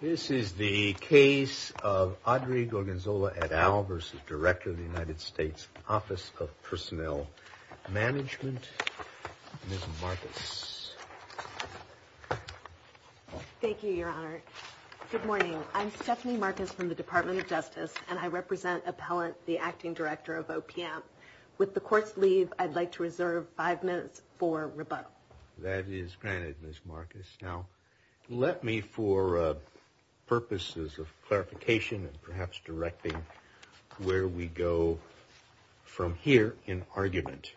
This is the case of Audrey Gorgonzola et al. versus Director of the United States Office of Personnel Management. Ms. Marcus. Thank you, Your Honor. Good morning. I'm Stephanie Marcus from the Department of Justice, and I represent Appellant, the Acting Director of OPM. With the Court's leave, I'd like to reserve five minutes for rebuttal. That is granted, Ms. Marcus. Now, let me, for purposes of clarification and perhaps directing where we go from here in argument,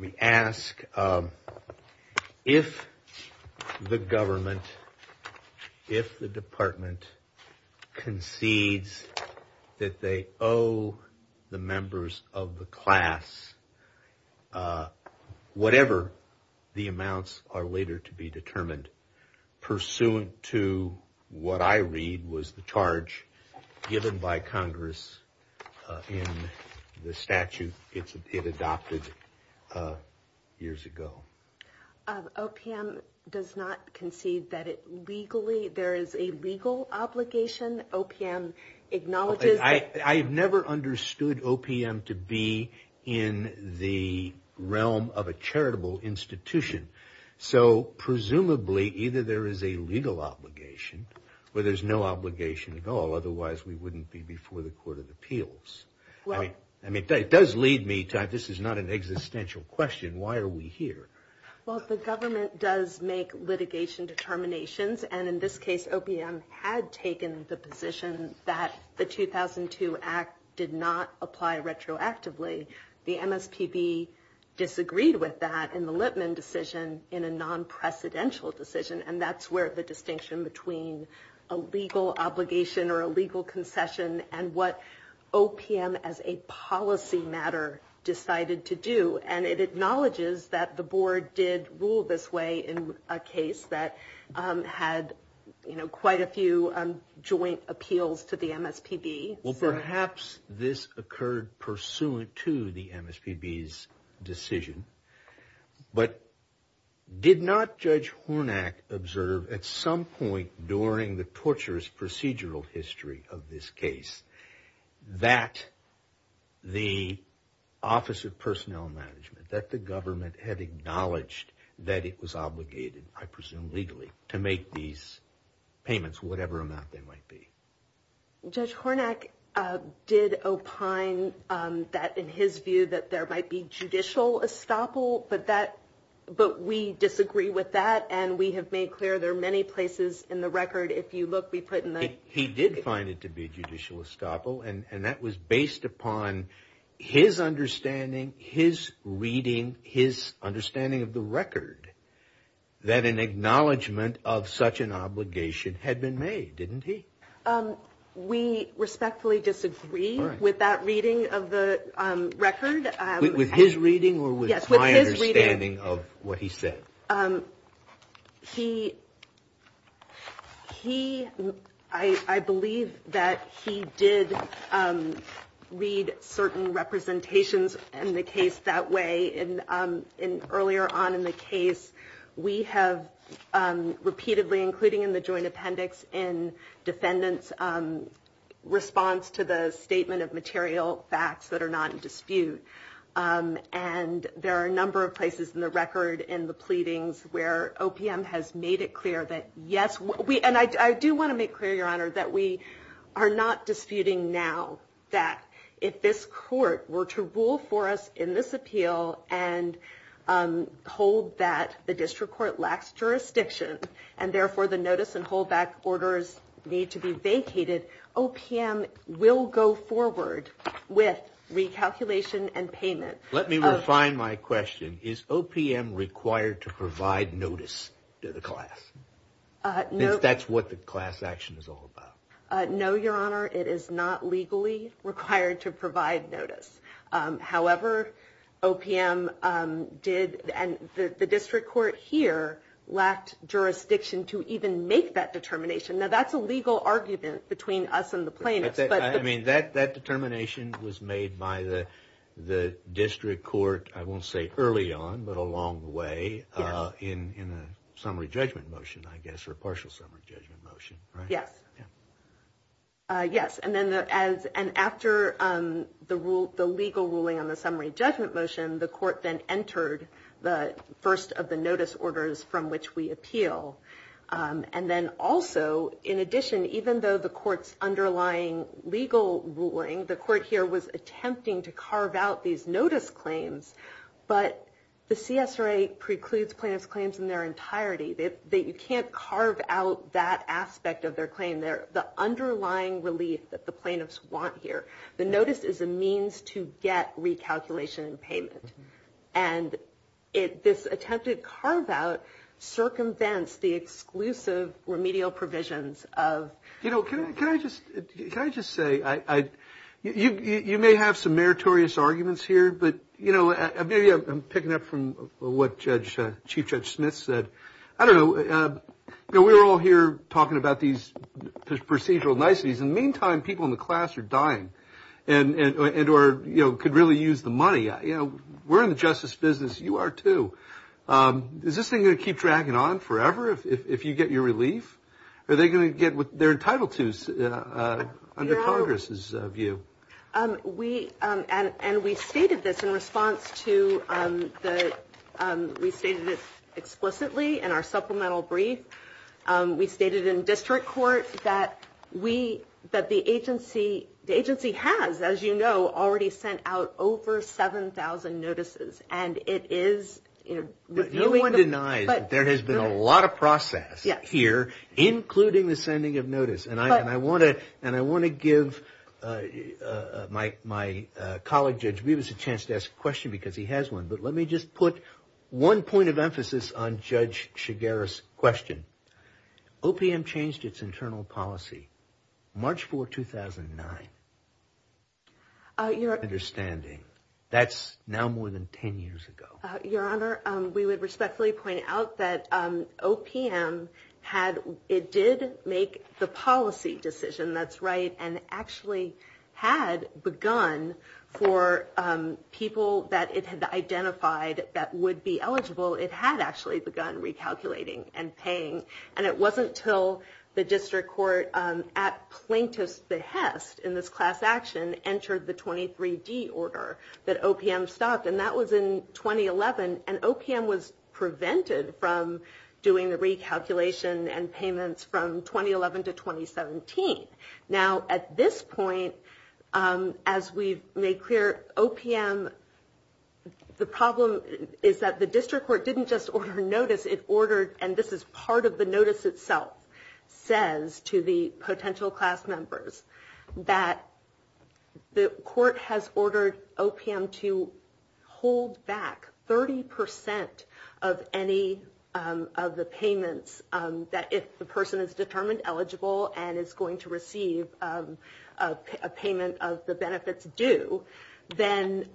we ask if the government, if the department concedes that they owe the members of the class whatever the amounts are later to be determined, pursuant to what I read was the charge given by Congress in the statute it adopted years ago. OPM does not concede that it legally, there is a legal obligation. OPM acknowledges that... Either there is a legal obligation, or there's no obligation at all. Otherwise, we wouldn't be before the Court of Appeals. I mean, it does lead me to, this is not an existential question. Why are we here? Well, the government does make litigation determinations, and in this case, OPM had taken the position that the 2002 Act did not apply retroactively. The MSPB disagreed with that in the Lipman decision in a non-precedential decision, and that's where the distinction between a legal obligation or a legal concession and what OPM as a policy matter decided to do. And it acknowledges that the board did rule this way in a case that had quite a few joint appeals to the MSPB. Well, perhaps this occurred pursuant to the MSPB's decision, but did not Judge Hornak observe at some point during the torturous procedural history of this case that the Office of Personnel Management, that the government had acknowledged that it was obligated, I presume legally, to make these payments, whatever amount they might be? Judge Hornak did opine that in his view that there might be judicial estoppel, but we disagree with that, and we have made clear there are many places in the record, if you look, we put in the He did find it to be judicial estoppel, and that was based upon his understanding, his reading, his understanding of the record, that an acknowledgement of such an obligation had been made, didn't he? We respectfully disagree with that reading of the record. With his reading or with my understanding of what he said? He, I believe that he did read certain representations in the case that way. And earlier on in the case, we have repeatedly, including in the joint appendix, in defendants' response to the statement of material facts that are not in dispute. And there are a number of places in the record in the pleadings where OPM has made it clear that yes, and I do want to make clear, Your Honor, that we are not disputing now that if this court were to rule for us in this appeal and hold that the district court lacks jurisdiction, and therefore the notice and hold back orders need to be vacated, OPM will go forward with recalculation and payment. Let me refine my question. Is OPM required to provide notice to the class? That's what the class action is all about. No, Your Honor, it is not legally required to provide notice. However, OPM did and the district court here lacked jurisdiction to even make that determination. Now, that's a legal argument between us and the plaintiffs. I mean, that determination was made by the district court, I won't say early on, but along the way in a summary judgment motion, I guess, or a partial summary judgment motion, right? Yes. Yes. And after the legal ruling on the summary judgment motion, the court then entered the first of the notice orders from which we appeal. And then also, in addition, even though the court's underlying legal ruling, the court here was attempting to carve out these notice claims, but the CSRA precludes plaintiff's claims in their entirety. You can't carve out that aspect of their claim there. The underlying relief that the plaintiffs want here, the notice is a means to get recalculation and payment. And this attempted carve out circumvents the exclusive remedial provisions of – We're all here talking about these procedural niceties. In the meantime, people in the class are dying and could really use the money. We're in the justice business. You are, too. Is this thing going to keep dragging on forever if you get your relief? Are they going to get what they're entitled to under Congress's view? We – and we stated this in response to the – we stated it explicitly in our supplemental brief. We stated in district court that we – that the agency – the agency has, as you know, already sent out over 7,000 notices. And it is – No one denies that there has been a lot of process here, including the sending of notice. And I want to – and I want to give my colleague, Judge Beavis, a chance to ask a question because he has one. But let me just put one point of emphasis on Judge Shigera's question. OPM changed its internal policy March 4, 2009. Your – My understanding. That's now more than 10 years ago. Your Honor, we would respectfully point out that OPM had – it did make the policy decision, that's right, and actually had begun for people that it had identified that would be eligible. It had actually begun recalculating and paying. And it wasn't until the district court, at plaintiff's behest in this class action, entered the 23D order that OPM stopped. And that was in 2011. And OPM was prevented from doing the recalculation and payments from 2011 to 2017. Now, at this point, as we've made clear, OPM – the problem is that the district court didn't just order notice. It ordered – and this is part of the notice itself – says to the potential class members that the court has ordered OPM to hold back 30% of any of the payments that if the person is determined eligible and is going to receive a payment of the benefits due, then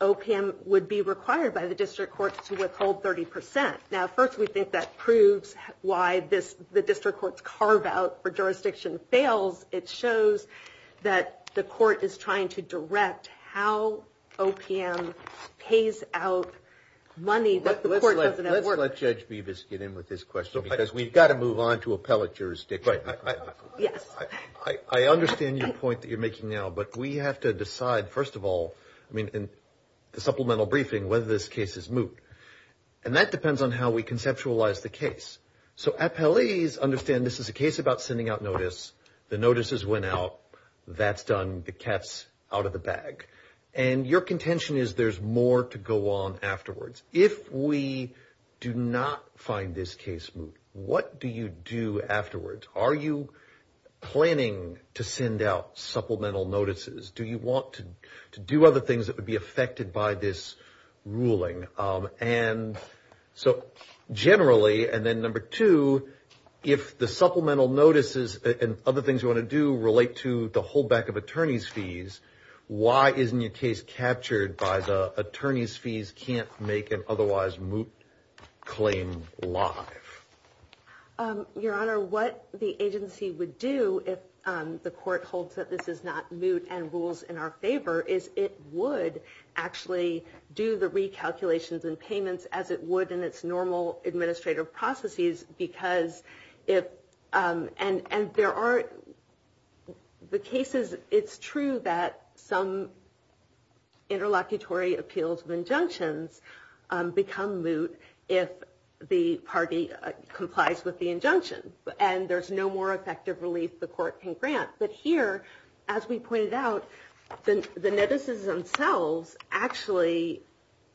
OPM would be required by the district court to withhold 30%. Now, first, we think that proves why this – the district court's carve-out for jurisdiction fails. It shows that the court is trying to direct how OPM pays out money that the court doesn't have to order. Let's let Judge Bevis get in with his question, because we've got to move on to appellate jurisdiction. Right. Yes. I understand your point that you're making now, but we have to decide, first of all, I mean, in the supplemental briefing, whether this case is moot. And that depends on how we conceptualize the case. So appellees understand this is a case about sending out notice. The notices went out. That's done. The cat's out of the bag. And your contention is there's more to go on afterwards. If we do not find this case moot, what do you do afterwards? Are you planning to send out supplemental notices? Do you want to do other things that would be affected by this ruling? And so generally, and then number two, if the supplemental notices and other things you want to do relate to the holdback of attorney's fees, why isn't your case captured by the attorney's fees can't make an otherwise moot claim live? Your Honor, what the agency would do if the court holds that this is not moot and rules in our favor, is it would actually do the recalculations and payments as it would in its normal administrative processes. Because if, and there are the cases, it's true that some interlocutory appeals of injunctions become moot if the party complies with the injunction. And there's no more effective relief the court can grant. But here, as we pointed out, the notices themselves actually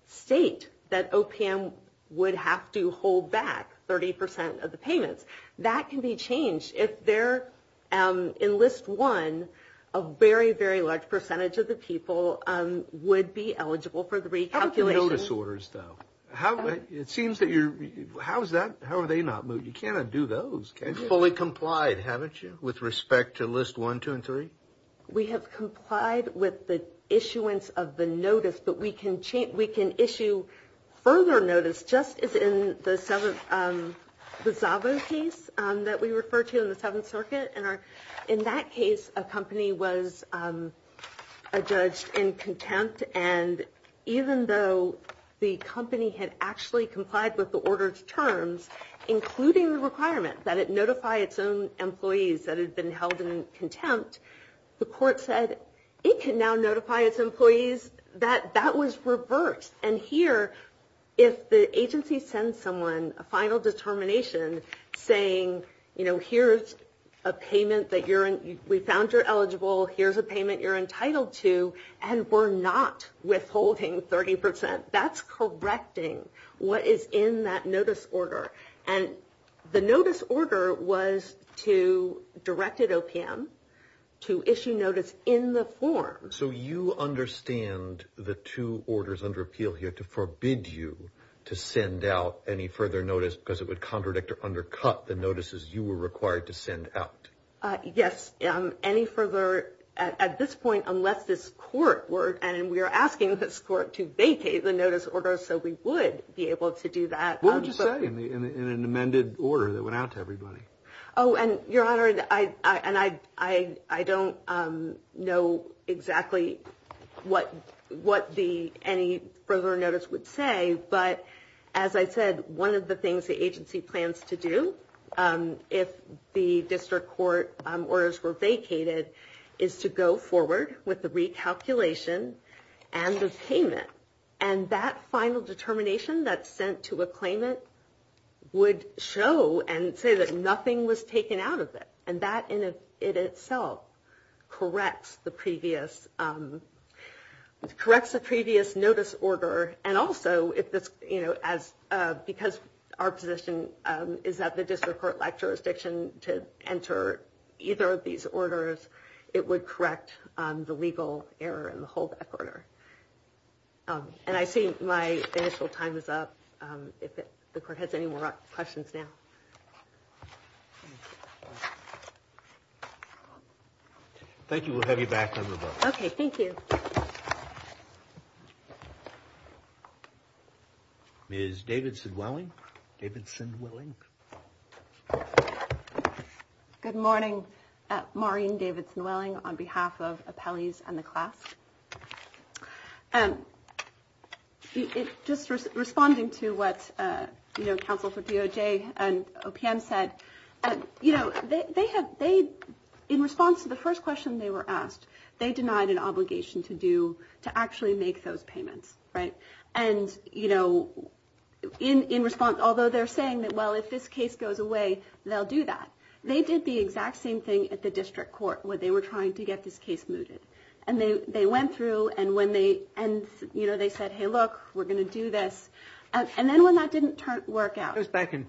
state that OPM would have to hold back 30% of the payments. That can be changed. If they're in list one, a very, very large percentage of the people would be eligible for the recalculations. How about the notice orders, though? It seems that you're, how's that, how are they not moot? You can't undo those, can you? You've fully complied, haven't you, with respect to list one, two, and three? We have complied with the issuance of the notice, but we can issue further notice, just as in the Zabo case that we referred to in the Seventh Circuit. And in that case, a company was adjudged in contempt. And even though the company had actually complied with the order's terms, including the requirement that it notify its own employees that had been held in contempt, the court said it can now notify its employees that that was reversed. And here, if the agency sends someone a final determination saying, you know, here's a payment that you're, we found you're eligible, here's a payment you're entitled to, and we're not withholding 30%, that's correcting what is in that notice order. And the notice order was to, directed OPM, to issue notice in the form. So you understand the two orders under appeal here to forbid you to send out any further notice because it would contradict or undercut the notices you were required to send out? Yes. Any further, at this point, unless this court were, and we are asking this court to vacate the notice order so we would be able to do that. What would you say in an amended order that went out to everybody? Oh, and Your Honor, and I don't know exactly what the, any further notice would say, but as I said, one of the things the agency plans to do if the district court orders were vacated is to go forward with the recalculation and the payment. And that final determination that's sent to a claimant would show and say that nothing was taken out of it. And that in itself corrects the previous, corrects the previous notice order. And also, because our position is that the district court lacked jurisdiction to enter either of these orders, it would correct the legal error in the whole order. And I see my initial time is up. If the court has any more questions now. Thank you. We'll have you back on the vote. OK, thank you. Ms. Davidson-Welling. Davidson-Welling. Good morning. Maureen Davidson-Welling on behalf of appellees and the class. And just responding to what counsel for DOJ and OPM said, you know, they have they in response to the first question they were asked, they denied an obligation to do to actually make those payments. Right. And, you know, in response, although they're saying that, well, if this case goes away, they'll do that. They did the exact same thing at the district court where they were trying to get this case mooted. And they went through and when they and, you know, they said, hey, look, we're going to do this. And then when that didn't work out. It was back in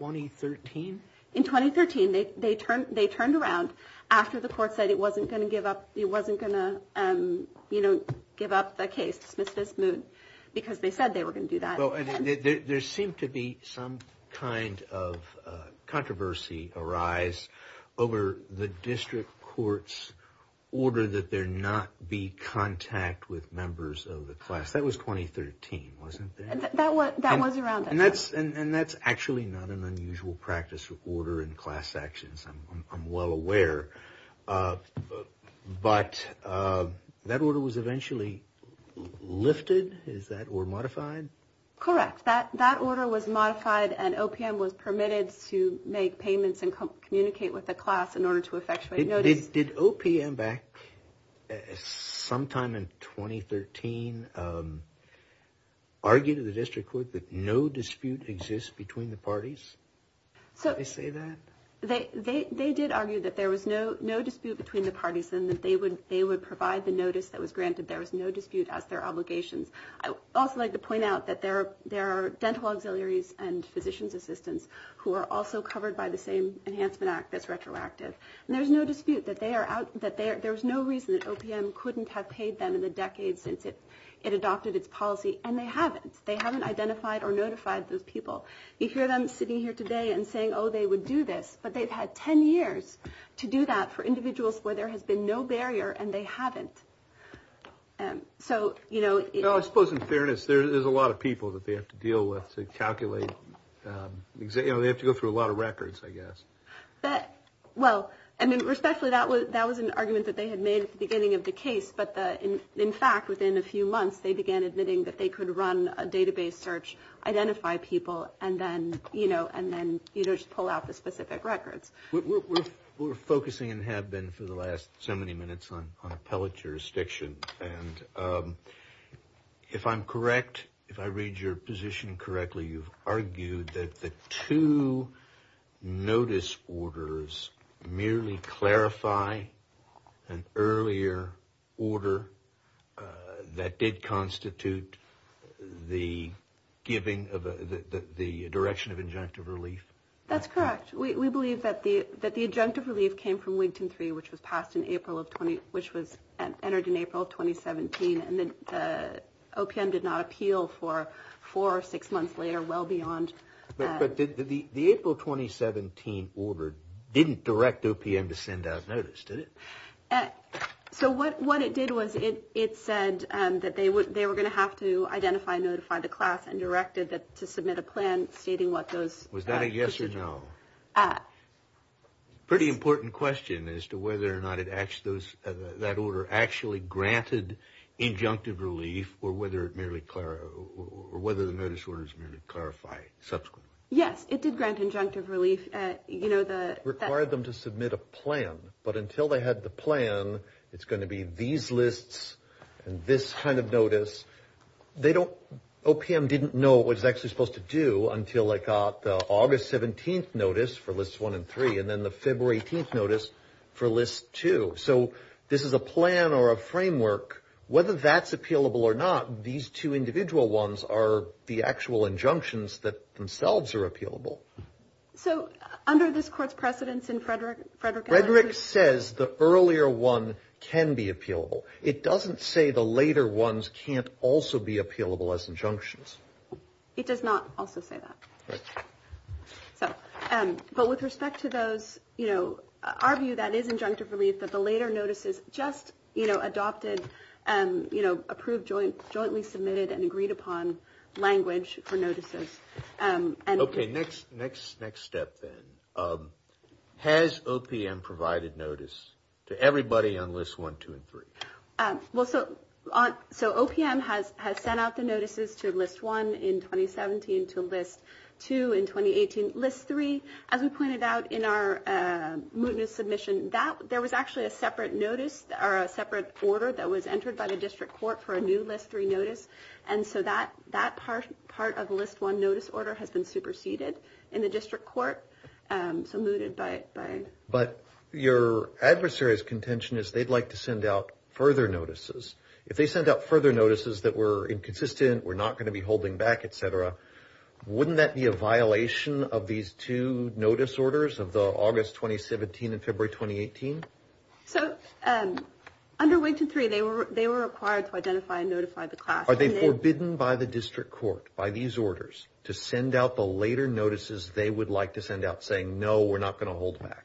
2013. In 2013, they turned they turned around after the court said it wasn't going to give up. It wasn't going to, you know, give up the case dismiss this move because they said they were going to do that. So there seemed to be some kind of controversy arise over the district court's order that there not be contact with members of the class. That was 2013, wasn't it? That was that was around. And that's and that's actually not an unusual practice order in class actions. I'm well aware. But that order was eventually lifted. Is that or modified? Correct. That that order was modified and OPM was permitted to make payments and communicate with the class in order to effectuated notice. Did OPM back sometime in 2013 argue to the district court that no dispute exists between the parties? So they say that they they did argue that there was no no dispute between the parties and that they would they would provide the notice that was granted. There was no dispute as their obligations. I also like to point out that there are there are dental auxiliaries and physicians assistants who are also covered by the same Enhancement Act. That's retroactive. And there's no dispute that they are out that there's no reason that OPM couldn't have paid them in the decades since it it adopted its policy. And they haven't. They haven't identified or notified those people. You hear them sitting here today and saying, oh, they would do this. But they've had 10 years to do that for individuals where there has been no barrier and they haven't. And so, you know, I suppose in fairness, there is a lot of people that they have to deal with to calculate. They have to go through a lot of records, I guess. Well, I mean, respectfully, that was that was an argument that they had made at the beginning of the case. But in fact, within a few months, they began admitting that they could run a database search, identify people and then, you know, and then, you know, just pull out the specific records. We're focusing and have been for the last so many minutes on appellate jurisdiction. And if I'm correct, if I read your position correctly, you've argued that the two notice orders merely clarify an earlier order that did constitute the giving of the direction of injunctive relief. That's correct. We believe that the that the injunctive relief came from Wigton 3, which was passed in April of 20, which was entered in April of 2017. And the OPM did not appeal for four or six months later. Well, beyond that, the April 2017 order didn't direct OPM to send out notice, did it? So what what it did was it it said that they would they were going to have to identify, notify the class and directed that to submit a plan stating what those was that a yes or no? Pretty important question as to whether or not it acts, those that order actually granted injunctive relief or whether it merely or whether the notice orders clarify subsequently. Yes, it did grant injunctive relief. You know, that required them to submit a plan. But until they had the plan, it's going to be these lists and this kind of notice. They don't. OPM didn't know what it was actually supposed to do until I got the August 17th notice for list one and three and then the February 18th notice for list two. So this is a plan or a framework, whether that's appealable or not. These two individual ones are the actual injunctions that themselves are appealable. So under this court's precedents in Frederick, Frederick, Frederick says the earlier one can be appealable. It doesn't say the later ones can't also be appealable as injunctions. It does not also say that. So. But with respect to those, you know, our view that is injunctive relief that the later notices just, you know, adopted and, you know, approved joint jointly submitted and agreed upon language for notices. OK, next, next, next step then. Has OPM provided notice to everybody on list one, two and three? Well, so on. So OPM has has sent out the notices to list one in 2017 to list two in 2018. List three, as we pointed out in our mootness submission, that there was actually a separate notice or a separate order that was entered by the district court for a new list three notice. And so that that part part of list one notice order has been superseded in the district court. So mooted by. But your adversaries contention is they'd like to send out further notices. If they sent out further notices that were inconsistent, we're not going to be holding back, et cetera. Wouldn't that be a violation of these two notice orders of the August 2017 and February 2018? So under way to three, they were they were required to identify and notify the class. Are they forbidden by the district court by these orders to send out the later notices? They would like to send out saying, no, we're not going to hold back.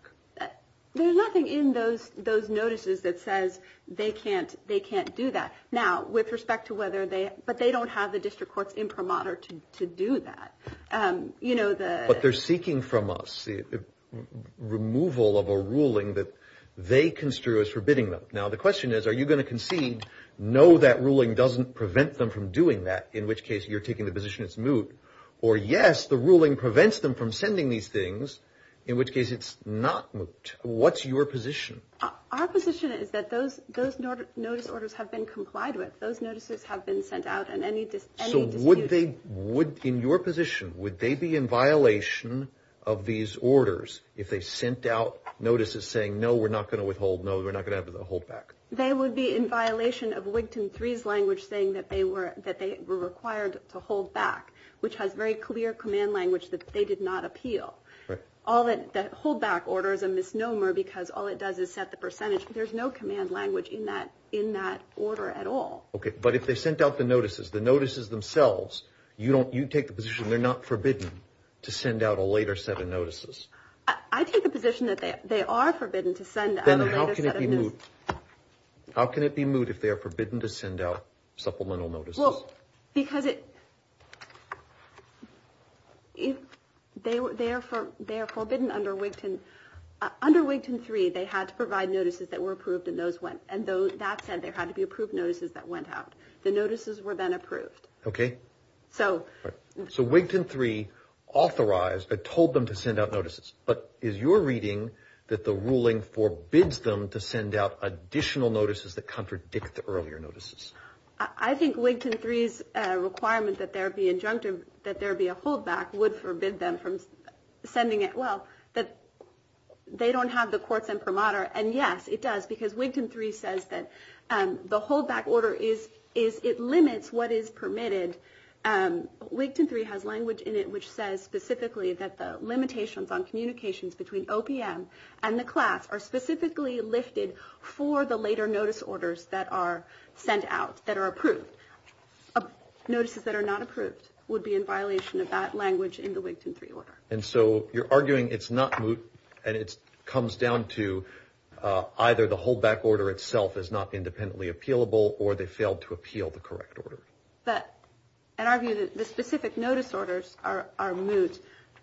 There's nothing in those those notices that says they can't they can't do that now with respect to whether they but they don't have the district courts imprimatur to do that. But they're seeking from us the removal of a ruling that they construe as forbidding them. Now, the question is, are you going to concede? No, that ruling doesn't prevent them from doing that. In which case you're taking the position it's moot or yes. The ruling prevents them from sending these things, in which case it's not. What's your position? Our position is that those those notice orders have been complied with. Those notices have been sent out and any just what they would in your position, would they be in violation of these orders if they sent out notices saying, no, we're not going to withhold? No, we're not going to hold back. They would be in violation of Wigton three's language, saying that they were that they were required to hold back, which has very clear command language that they did not appeal. All that hold back orders a misnomer because all it does is set the percentage. There's no command language in that in that order at all. OK, but if they sent out the notices, the notices themselves, you don't you take the position they're not forbidden to send out a later set of notices. I take the position that they are forbidden to send. Then how can it be moot? How can it be moot if they are forbidden to send out supplemental notices? Because it if they were there for their forbidden under Wigton under Wigton three, they had to provide notices that were approved and those went. And that said, there had to be approved notices that went out. The notices were then approved. OK, so so Wigton three authorized but told them to send out notices. But is your reading that the ruling forbids them to send out additional notices that contradict the earlier notices? I think Wigton three's requirement that there be injunctive, that there be a hold back would forbid them from sending it. Well, that they don't have the courts and promoter. And yes, it does. Because Wigton three says that the hold back order is is it limits what is permitted. Wigton three has language in it which says specifically that the limitations on communications between OPM and the class are specifically lifted for the later notice orders that are sent out. That are approved. Notices that are not approved would be in violation of that language in the Wigton three order. And so you're arguing it's not moot and it comes down to either the hold back order itself is not independently appealable or they failed to appeal the correct order. But in our view, the specific notice orders are moot.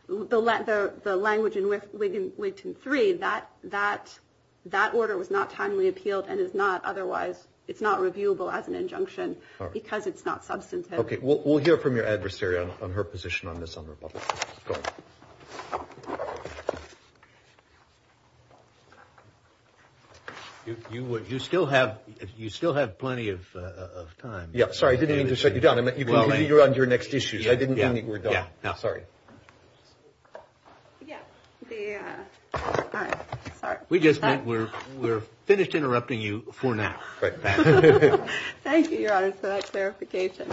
The language in which we can wait to three that that that order was not timely appealed and is not otherwise it's not reviewable as an injunction because it's not substantive. OK, well, we'll hear from your adversary on her position on this. You would you still have you still have plenty of time. Yeah. Sorry. I didn't mean to shut you down. You're on your next issue. I didn't. Yeah. Sorry. Yeah. All right. We just we're we're finished interrupting you for now. Thank you, Your Honor, for that clarification.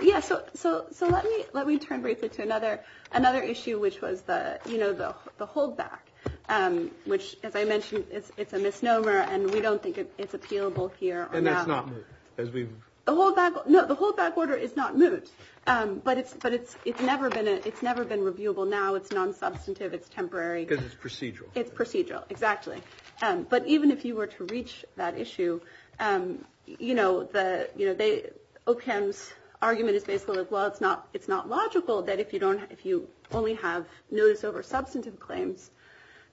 Yes. So. So. So let me let me turn briefly to another another issue, which was the, you know, the hold back, which, as I mentioned, it's a misnomer and we don't think it's appealable here. And that's not as we know, the hold back order is not moot. But it's but it's it's never been it's never been reviewable. Now, it's non-substantive. It's temporary because it's procedural. It's procedural. Exactly. But even if you were to reach that issue, you know, the you know, they OK. Argument is basically, well, it's not it's not logical that if you don't if you only have notice over substantive claims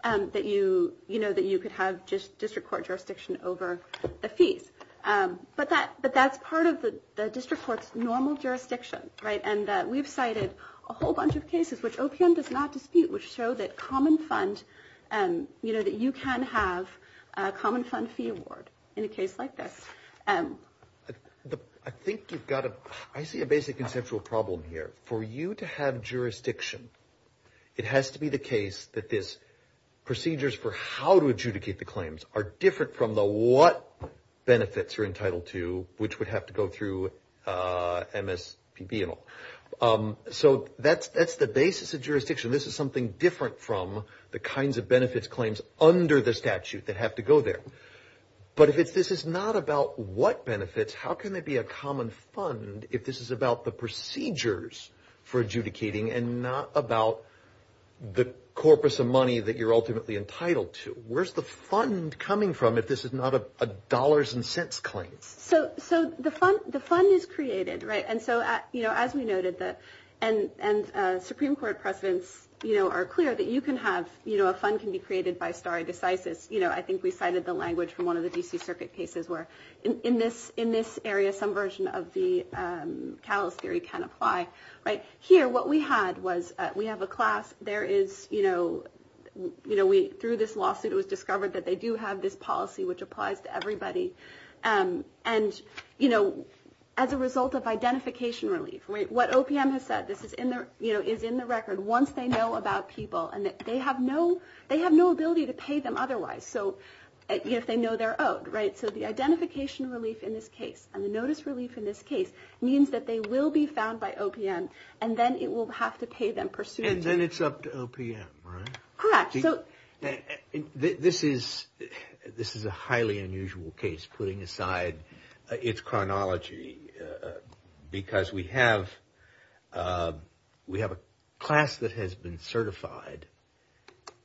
that you you know that you could have just district court jurisdiction over the fees. But that but that's part of the district court's normal jurisdiction. Right. And we've cited a whole bunch of cases which does not dispute which show that common fund and you know that you can have a common fund fee award in a case like this. I think you've got to I see a basic conceptual problem here for you to have jurisdiction. It has to be the case that this procedures for how to adjudicate the claims are different from the what benefits are entitled to, which would have to go through MSPB and all. So that's that's the basis of jurisdiction. This is something different from the kinds of benefits claims under the statute that have to go there. But if this is not about what benefits, how can it be a common fund if this is about the procedures for adjudicating and not about the corpus of money that you're ultimately entitled to? Where's the fund coming from if this is not a dollars and cents claims? So so the fund the fund is created. Right. And so, you know, as we noted that and and Supreme Court presidents are clear that you can have a fund can be created by stare decisis. You know, I think we cited the language from one of the D.C. circuit cases where in this in this area, some version of the callous theory can apply. Right here. What we had was we have a class. There is, you know, you know, we threw this lawsuit. It was discovered that they do have this policy which applies to everybody. And, you know, as a result of identification relief, what OPM has said, this is in there, you know, is in the record. Once they know about people and they have no they have no ability to pay them otherwise. So if they know they're owed. Right. So the identification relief in this case and the notice relief in this case means that they will be found by OPM and then it will have to pay them pursuant. And then it's up to OPM. Correct. So this is this is a highly unusual case. Putting aside its chronology, because we have we have a class that has been certified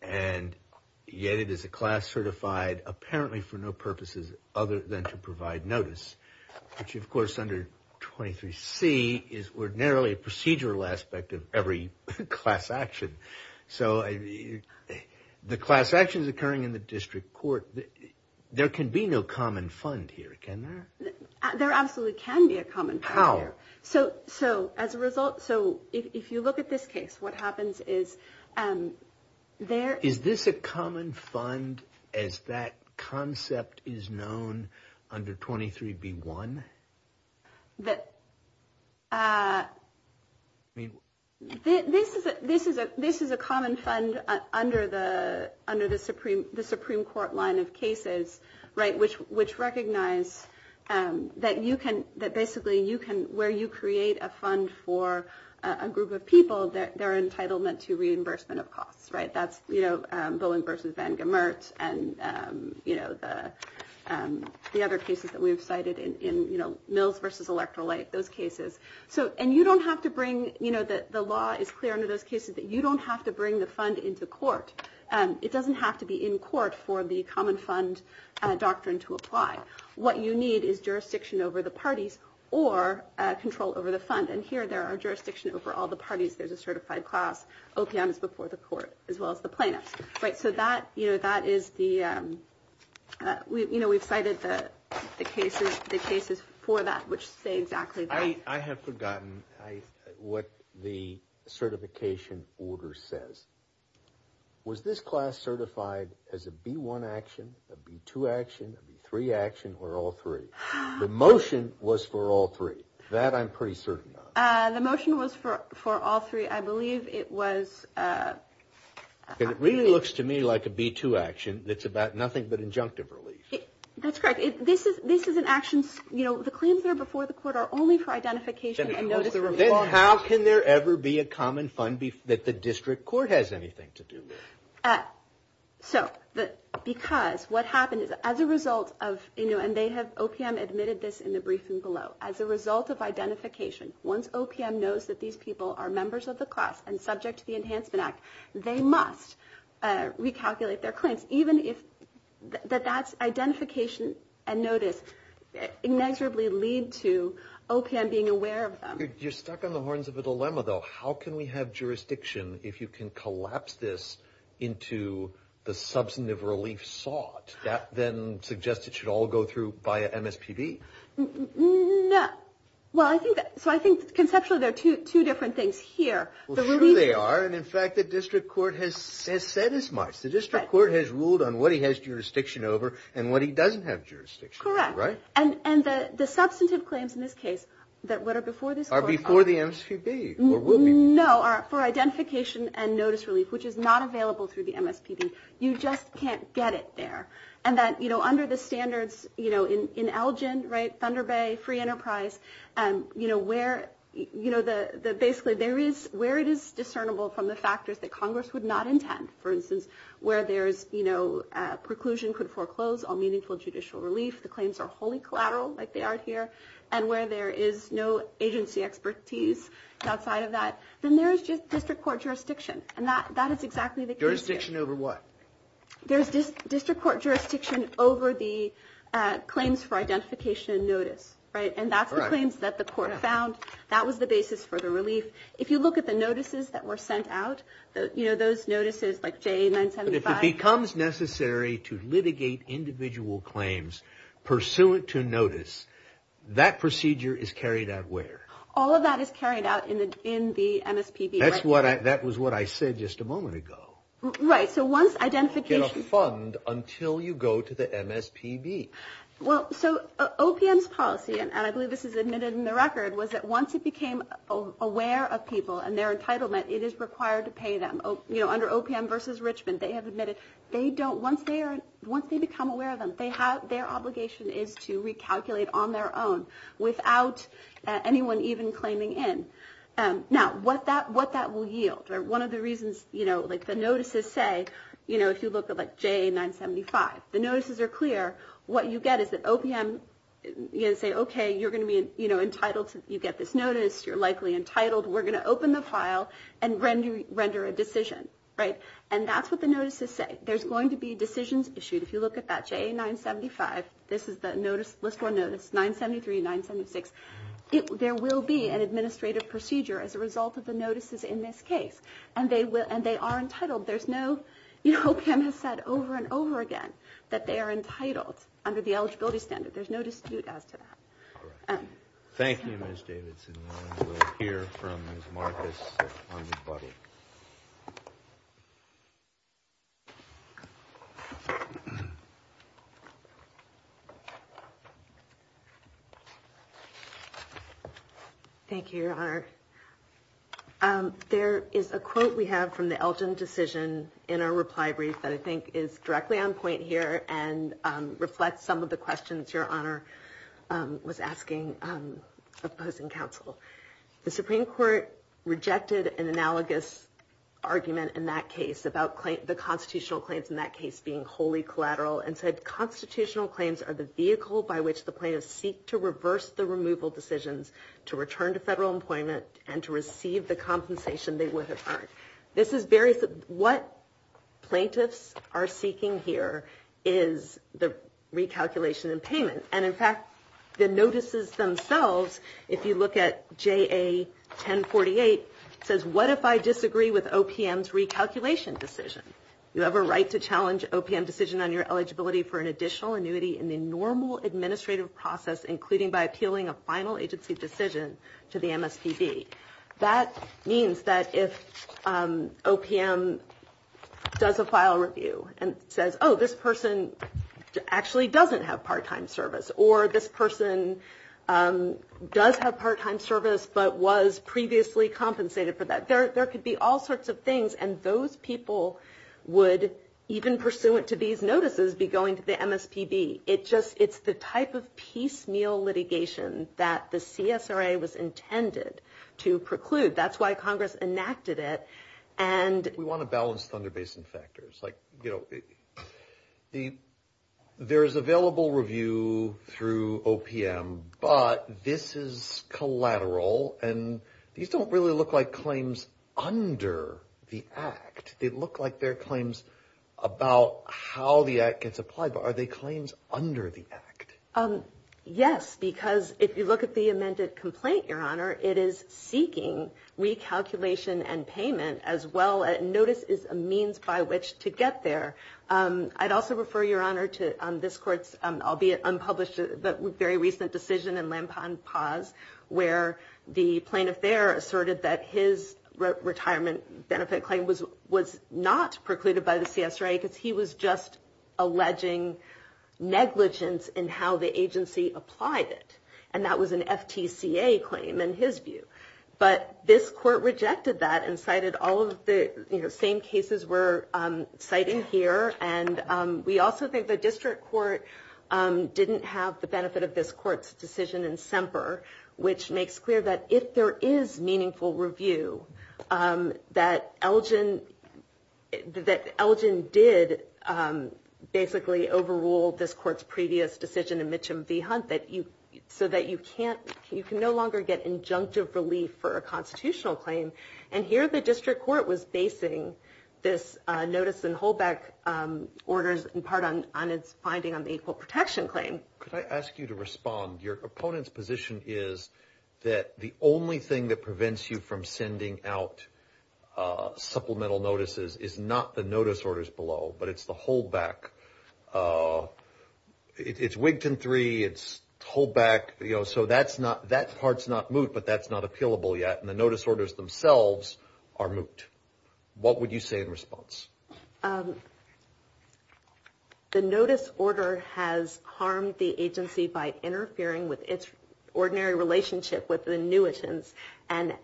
and yet it is a class certified apparently for no purposes other than to provide notice. Which, of course, under 23 C is ordinarily a procedural aspect of every class action. So the class actions occurring in the district court. There can be no common fund here. Can there? There absolutely can be a common power. So. So as a result. So if you look at this case, what happens is there is this a common fund as that concept is known under 23 B1. That. I mean, this is a this is a this is a common fund under the under the Supreme the Supreme Court line of cases. Right. Which which recognize that you can that basically you can where you create a fund for a group of people that they're entitlement to reimbursement of costs. Right. That's, you know, Bowen versus Van Gemert and, you know, the the other cases that we've cited in Mills versus electoral like those cases. So and you don't have to bring you know, that the law is clear under those cases that you don't have to bring the fund into court. And it doesn't have to be in court for the common fund doctrine to apply. What you need is jurisdiction over the parties or control over the fund. And here there are jurisdiction over all the parties. There's a certified class. Okay. Before the court, as well as the plaintiffs. Right. So that you know, that is the you know, we've cited the cases, the cases for that which say exactly. I have forgotten what the certification order says. Was this class certified as a B1 action, a B2 action, a B3 action or all three? The motion was for all three. That I'm pretty certain. The motion was for for all three. I believe it was. And it really looks to me like a B2 action. It's about nothing but injunctive relief. That's correct. This is this is an action. You know, the claims are before the court are only for identification. And how can there ever be a common fund that the district court has anything to do with? So that because what happened is as a result of, you know, and they have OPM admitted this in the briefing below as a result of identification. Once OPM knows that these people are members of the class and subject to the Enhancement Act, they must recalculate their claims. Even if that that's identification and notice inexorably lead to OPM being aware of them. You're stuck on the horns of a dilemma, though. How can we have jurisdiction if you can collapse this into the substantive relief sought? That then suggests it should all go through by MSPB. No. Well, I think so. I think conceptually there are two two different things here. They are. And in fact, the district court has said as much. The district court has ruled on what he has jurisdiction over and what he doesn't have jurisdiction. Correct. Right. And the substantive claims in this case that were before this are before the MSPB. No. For identification and notice relief, which is not available through the MSPB. You just can't get it there. And that, you know, under the standards, you know, in Elgin. Right. Thunder Bay. Free Enterprise. And, you know, where, you know, the basically there is where it is discernible from the factors that Congress would not intend. For instance, where there is, you know, preclusion could foreclose on meaningful judicial relief. The claims are wholly collateral like they are here. And where there is no agency expertise outside of that, then there is just district court jurisdiction. And that that is exactly the jurisdiction over what there's this district court jurisdiction over the claims for identification notice. Right. And that's the claims that the court found. That was the basis for the relief. If you look at the notices that were sent out, you know, those notices like J 975 becomes necessary to litigate individual claims pursuant to notice. That procedure is carried out where all of that is carried out in the in the MSPB. That's what I that was what I said just a moment ago. Right. So once identification fund until you go to the MSPB. Well, so OPM's policy, and I believe this is admitted in the record, was that once it became aware of people and their entitlement, it is required to pay them. You know, under OPM versus Richmond, they have admitted they don't. Once they are once they become aware of them, they have their obligation is to recalculate on their own without anyone even claiming in. Now, what that what that will yield or one of the reasons, you know, like the notices say, you know, if you look at like J 975, the notices are clear. What you get is that OPM say, OK, you're going to be entitled to you get this notice. You're likely entitled. We're going to open the file and render render a decision. Right. And that's what the notices say. There's going to be decisions issued. If you look at that J 975, this is the notice list for notice 973, 976. There will be an administrative procedure as a result of the notices in this case. And they will and they are entitled. There's no hope. Kim has said over and over again that they are entitled under the eligibility standard. There's no dispute as to that. Thank you. Ms. Davidson here from Marcus. Thank you, your honor. There is a quote we have from the Elgin decision in our reply brief that I think is directly on point here. And reflect some of the questions your honor was asking opposing counsel. The Supreme Court rejected an analogous argument in that case about the constitutional claims in that case being wholly collateral and said constitutional claims are the vehicle by which the plaintiffs seek to reverse the removal decisions to return to federal employment and to receive the compensation they would have earned. This is very what plaintiffs are seeking here is the recalculation and payment. And in fact, the notices themselves, if you look at J.A. 1048, says, what if I disagree with OPM's recalculation decision? You have a right to challenge OPM decision on your eligibility for an additional annuity in the normal administrative process, including by appealing a final agency decision to the MSPB. That means that if OPM does a file review and says, oh, this person actually doesn't have part time service or this person does have part time service, but was previously compensated for that, there could be all sorts of things. And those people would even pursuant to these notices be going to the MSPB. It just it's the type of piecemeal litigation that the CSRA was intended to preclude. That's why Congress enacted it. And we want to balance Thunder Basin factors like, you know, the there is available review through OPM, but this is collateral and these don't really look like claims under the act. They look like they're claims about how the act gets applied. But are they claims under the act? Yes, because if you look at the amended complaint, your honor, it is seeking recalculation and payment as well. Notice is a means by which to get there. I'd also refer your honor to this court's, albeit unpublished, very recent decision in Lampan Paz, where the plaintiff there asserted that his retirement benefit claim was was not precluded by the CSRA, because he was just alleging negligence in how the agency applied it. And that was an FTCA claim in his view. But this court rejected that and cited all of the same cases we're citing here. And we also think the district court didn't have the benefit of this court's decision in Semper, which makes clear that if there is meaningful review, that Elgin, that Elgin did basically overrule this court's previous decision in Mitchum v. Hunt, that you so that you can't you can no longer get injunctive relief for a constitutional claim. And here the district court was basing this notice and hold back orders in part on its finding on the equal protection claim. Could I ask you to respond? Your opponent's position is that the only thing that prevents you from sending out supplemental notices is not the notice orders below, but it's the hold back. It's Wigton three. It's hold back. So that's not that part's not moot, but that's not appealable yet. And the notice orders themselves are moot. What would you say in response? The notice order has harmed the agency by interfering with its ordinary relationship with the new agents and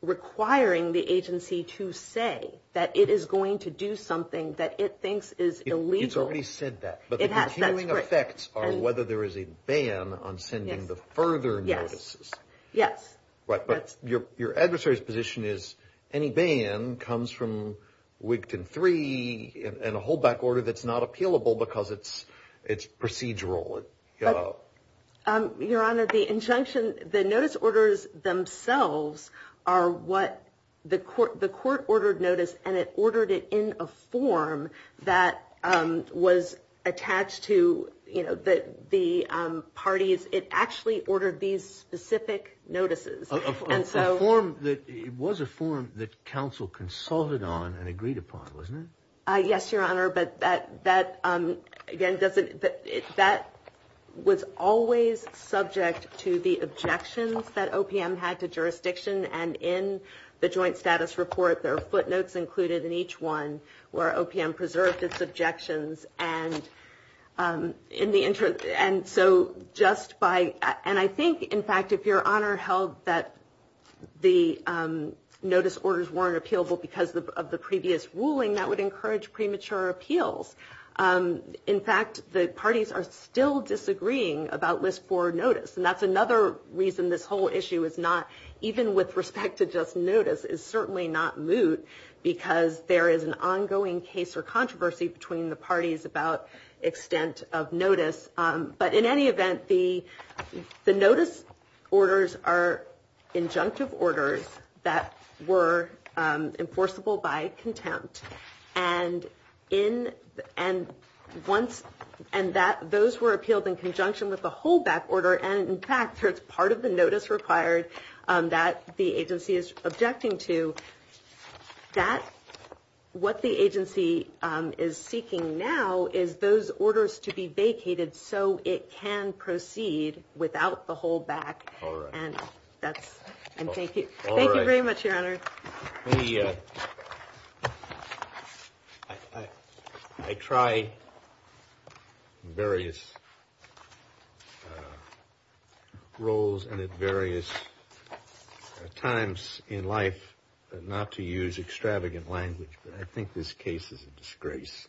requiring the agency to say that it is going to do something that it thinks is illegal. But the continuing effects are whether there is a ban on sending the further notices. Yes. Right. But your your adversary's position is any ban comes from Wigton three and a hold back order. That's not appealable because it's it's procedural. Your Honor, the injunction, the notice orders themselves are what the court, the court ordered notice and it ordered it in a form that was attached to the parties. It actually ordered these specific notices. And so a form that it was a form that counsel consulted on and agreed upon, wasn't it? Yes, Your Honor. But that that again, doesn't that was always subject to the objections that OPM had to jurisdiction. And in the joint status report, there are footnotes included in each one where OPM preserved its objections. And in the interest. And so just by. And I think, in fact, if your honor held that the notice orders weren't appealable because of the previous ruling, that would encourage premature appeals. In fact, the parties are still disagreeing about this for notice. And that's another reason this whole issue is not even with respect to just notice is certainly not moot, because there is an ongoing case or controversy between the parties about extent of notice. But in any event, the the notice orders are injunctive orders that were enforceable by contempt. And in and once and that those were appealed in conjunction with the whole back order. And in fact, it's part of the notice required that the agency is objecting to that. What the agency is seeking now is those orders to be vacated so it can proceed without the whole back. And that's. And thank you. Thank you very much, your honor. I tried various roles and at various times in life not to use extravagant language. But I think this case is a disgrace.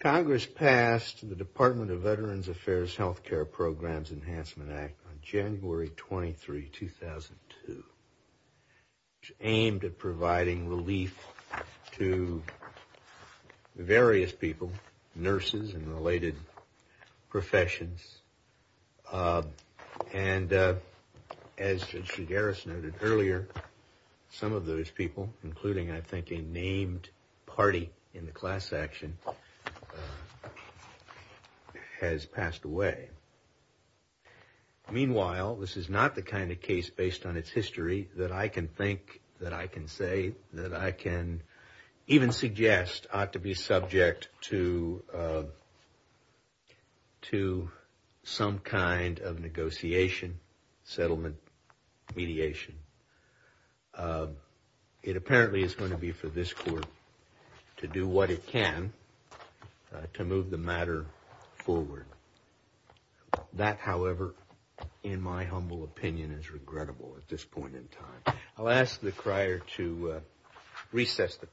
Congress passed the Department of Veterans Affairs Health Care Programs Enhancement Act on January 23, 2002, aimed at providing relief to various people, nurses and related professions. And as Garis noted earlier, some of those people, including, I think, a named party in the class action has passed away. Meanwhile, this is not the kind of case based on its history that I can think that I can say that I can even suggest to be subject to. To some kind of negotiation settlement mediation. It apparently is going to be for this court to do what it can to move the matter forward. That, however, in my humble opinion, is regrettable at this point in time. I'll ask the crier to recess the.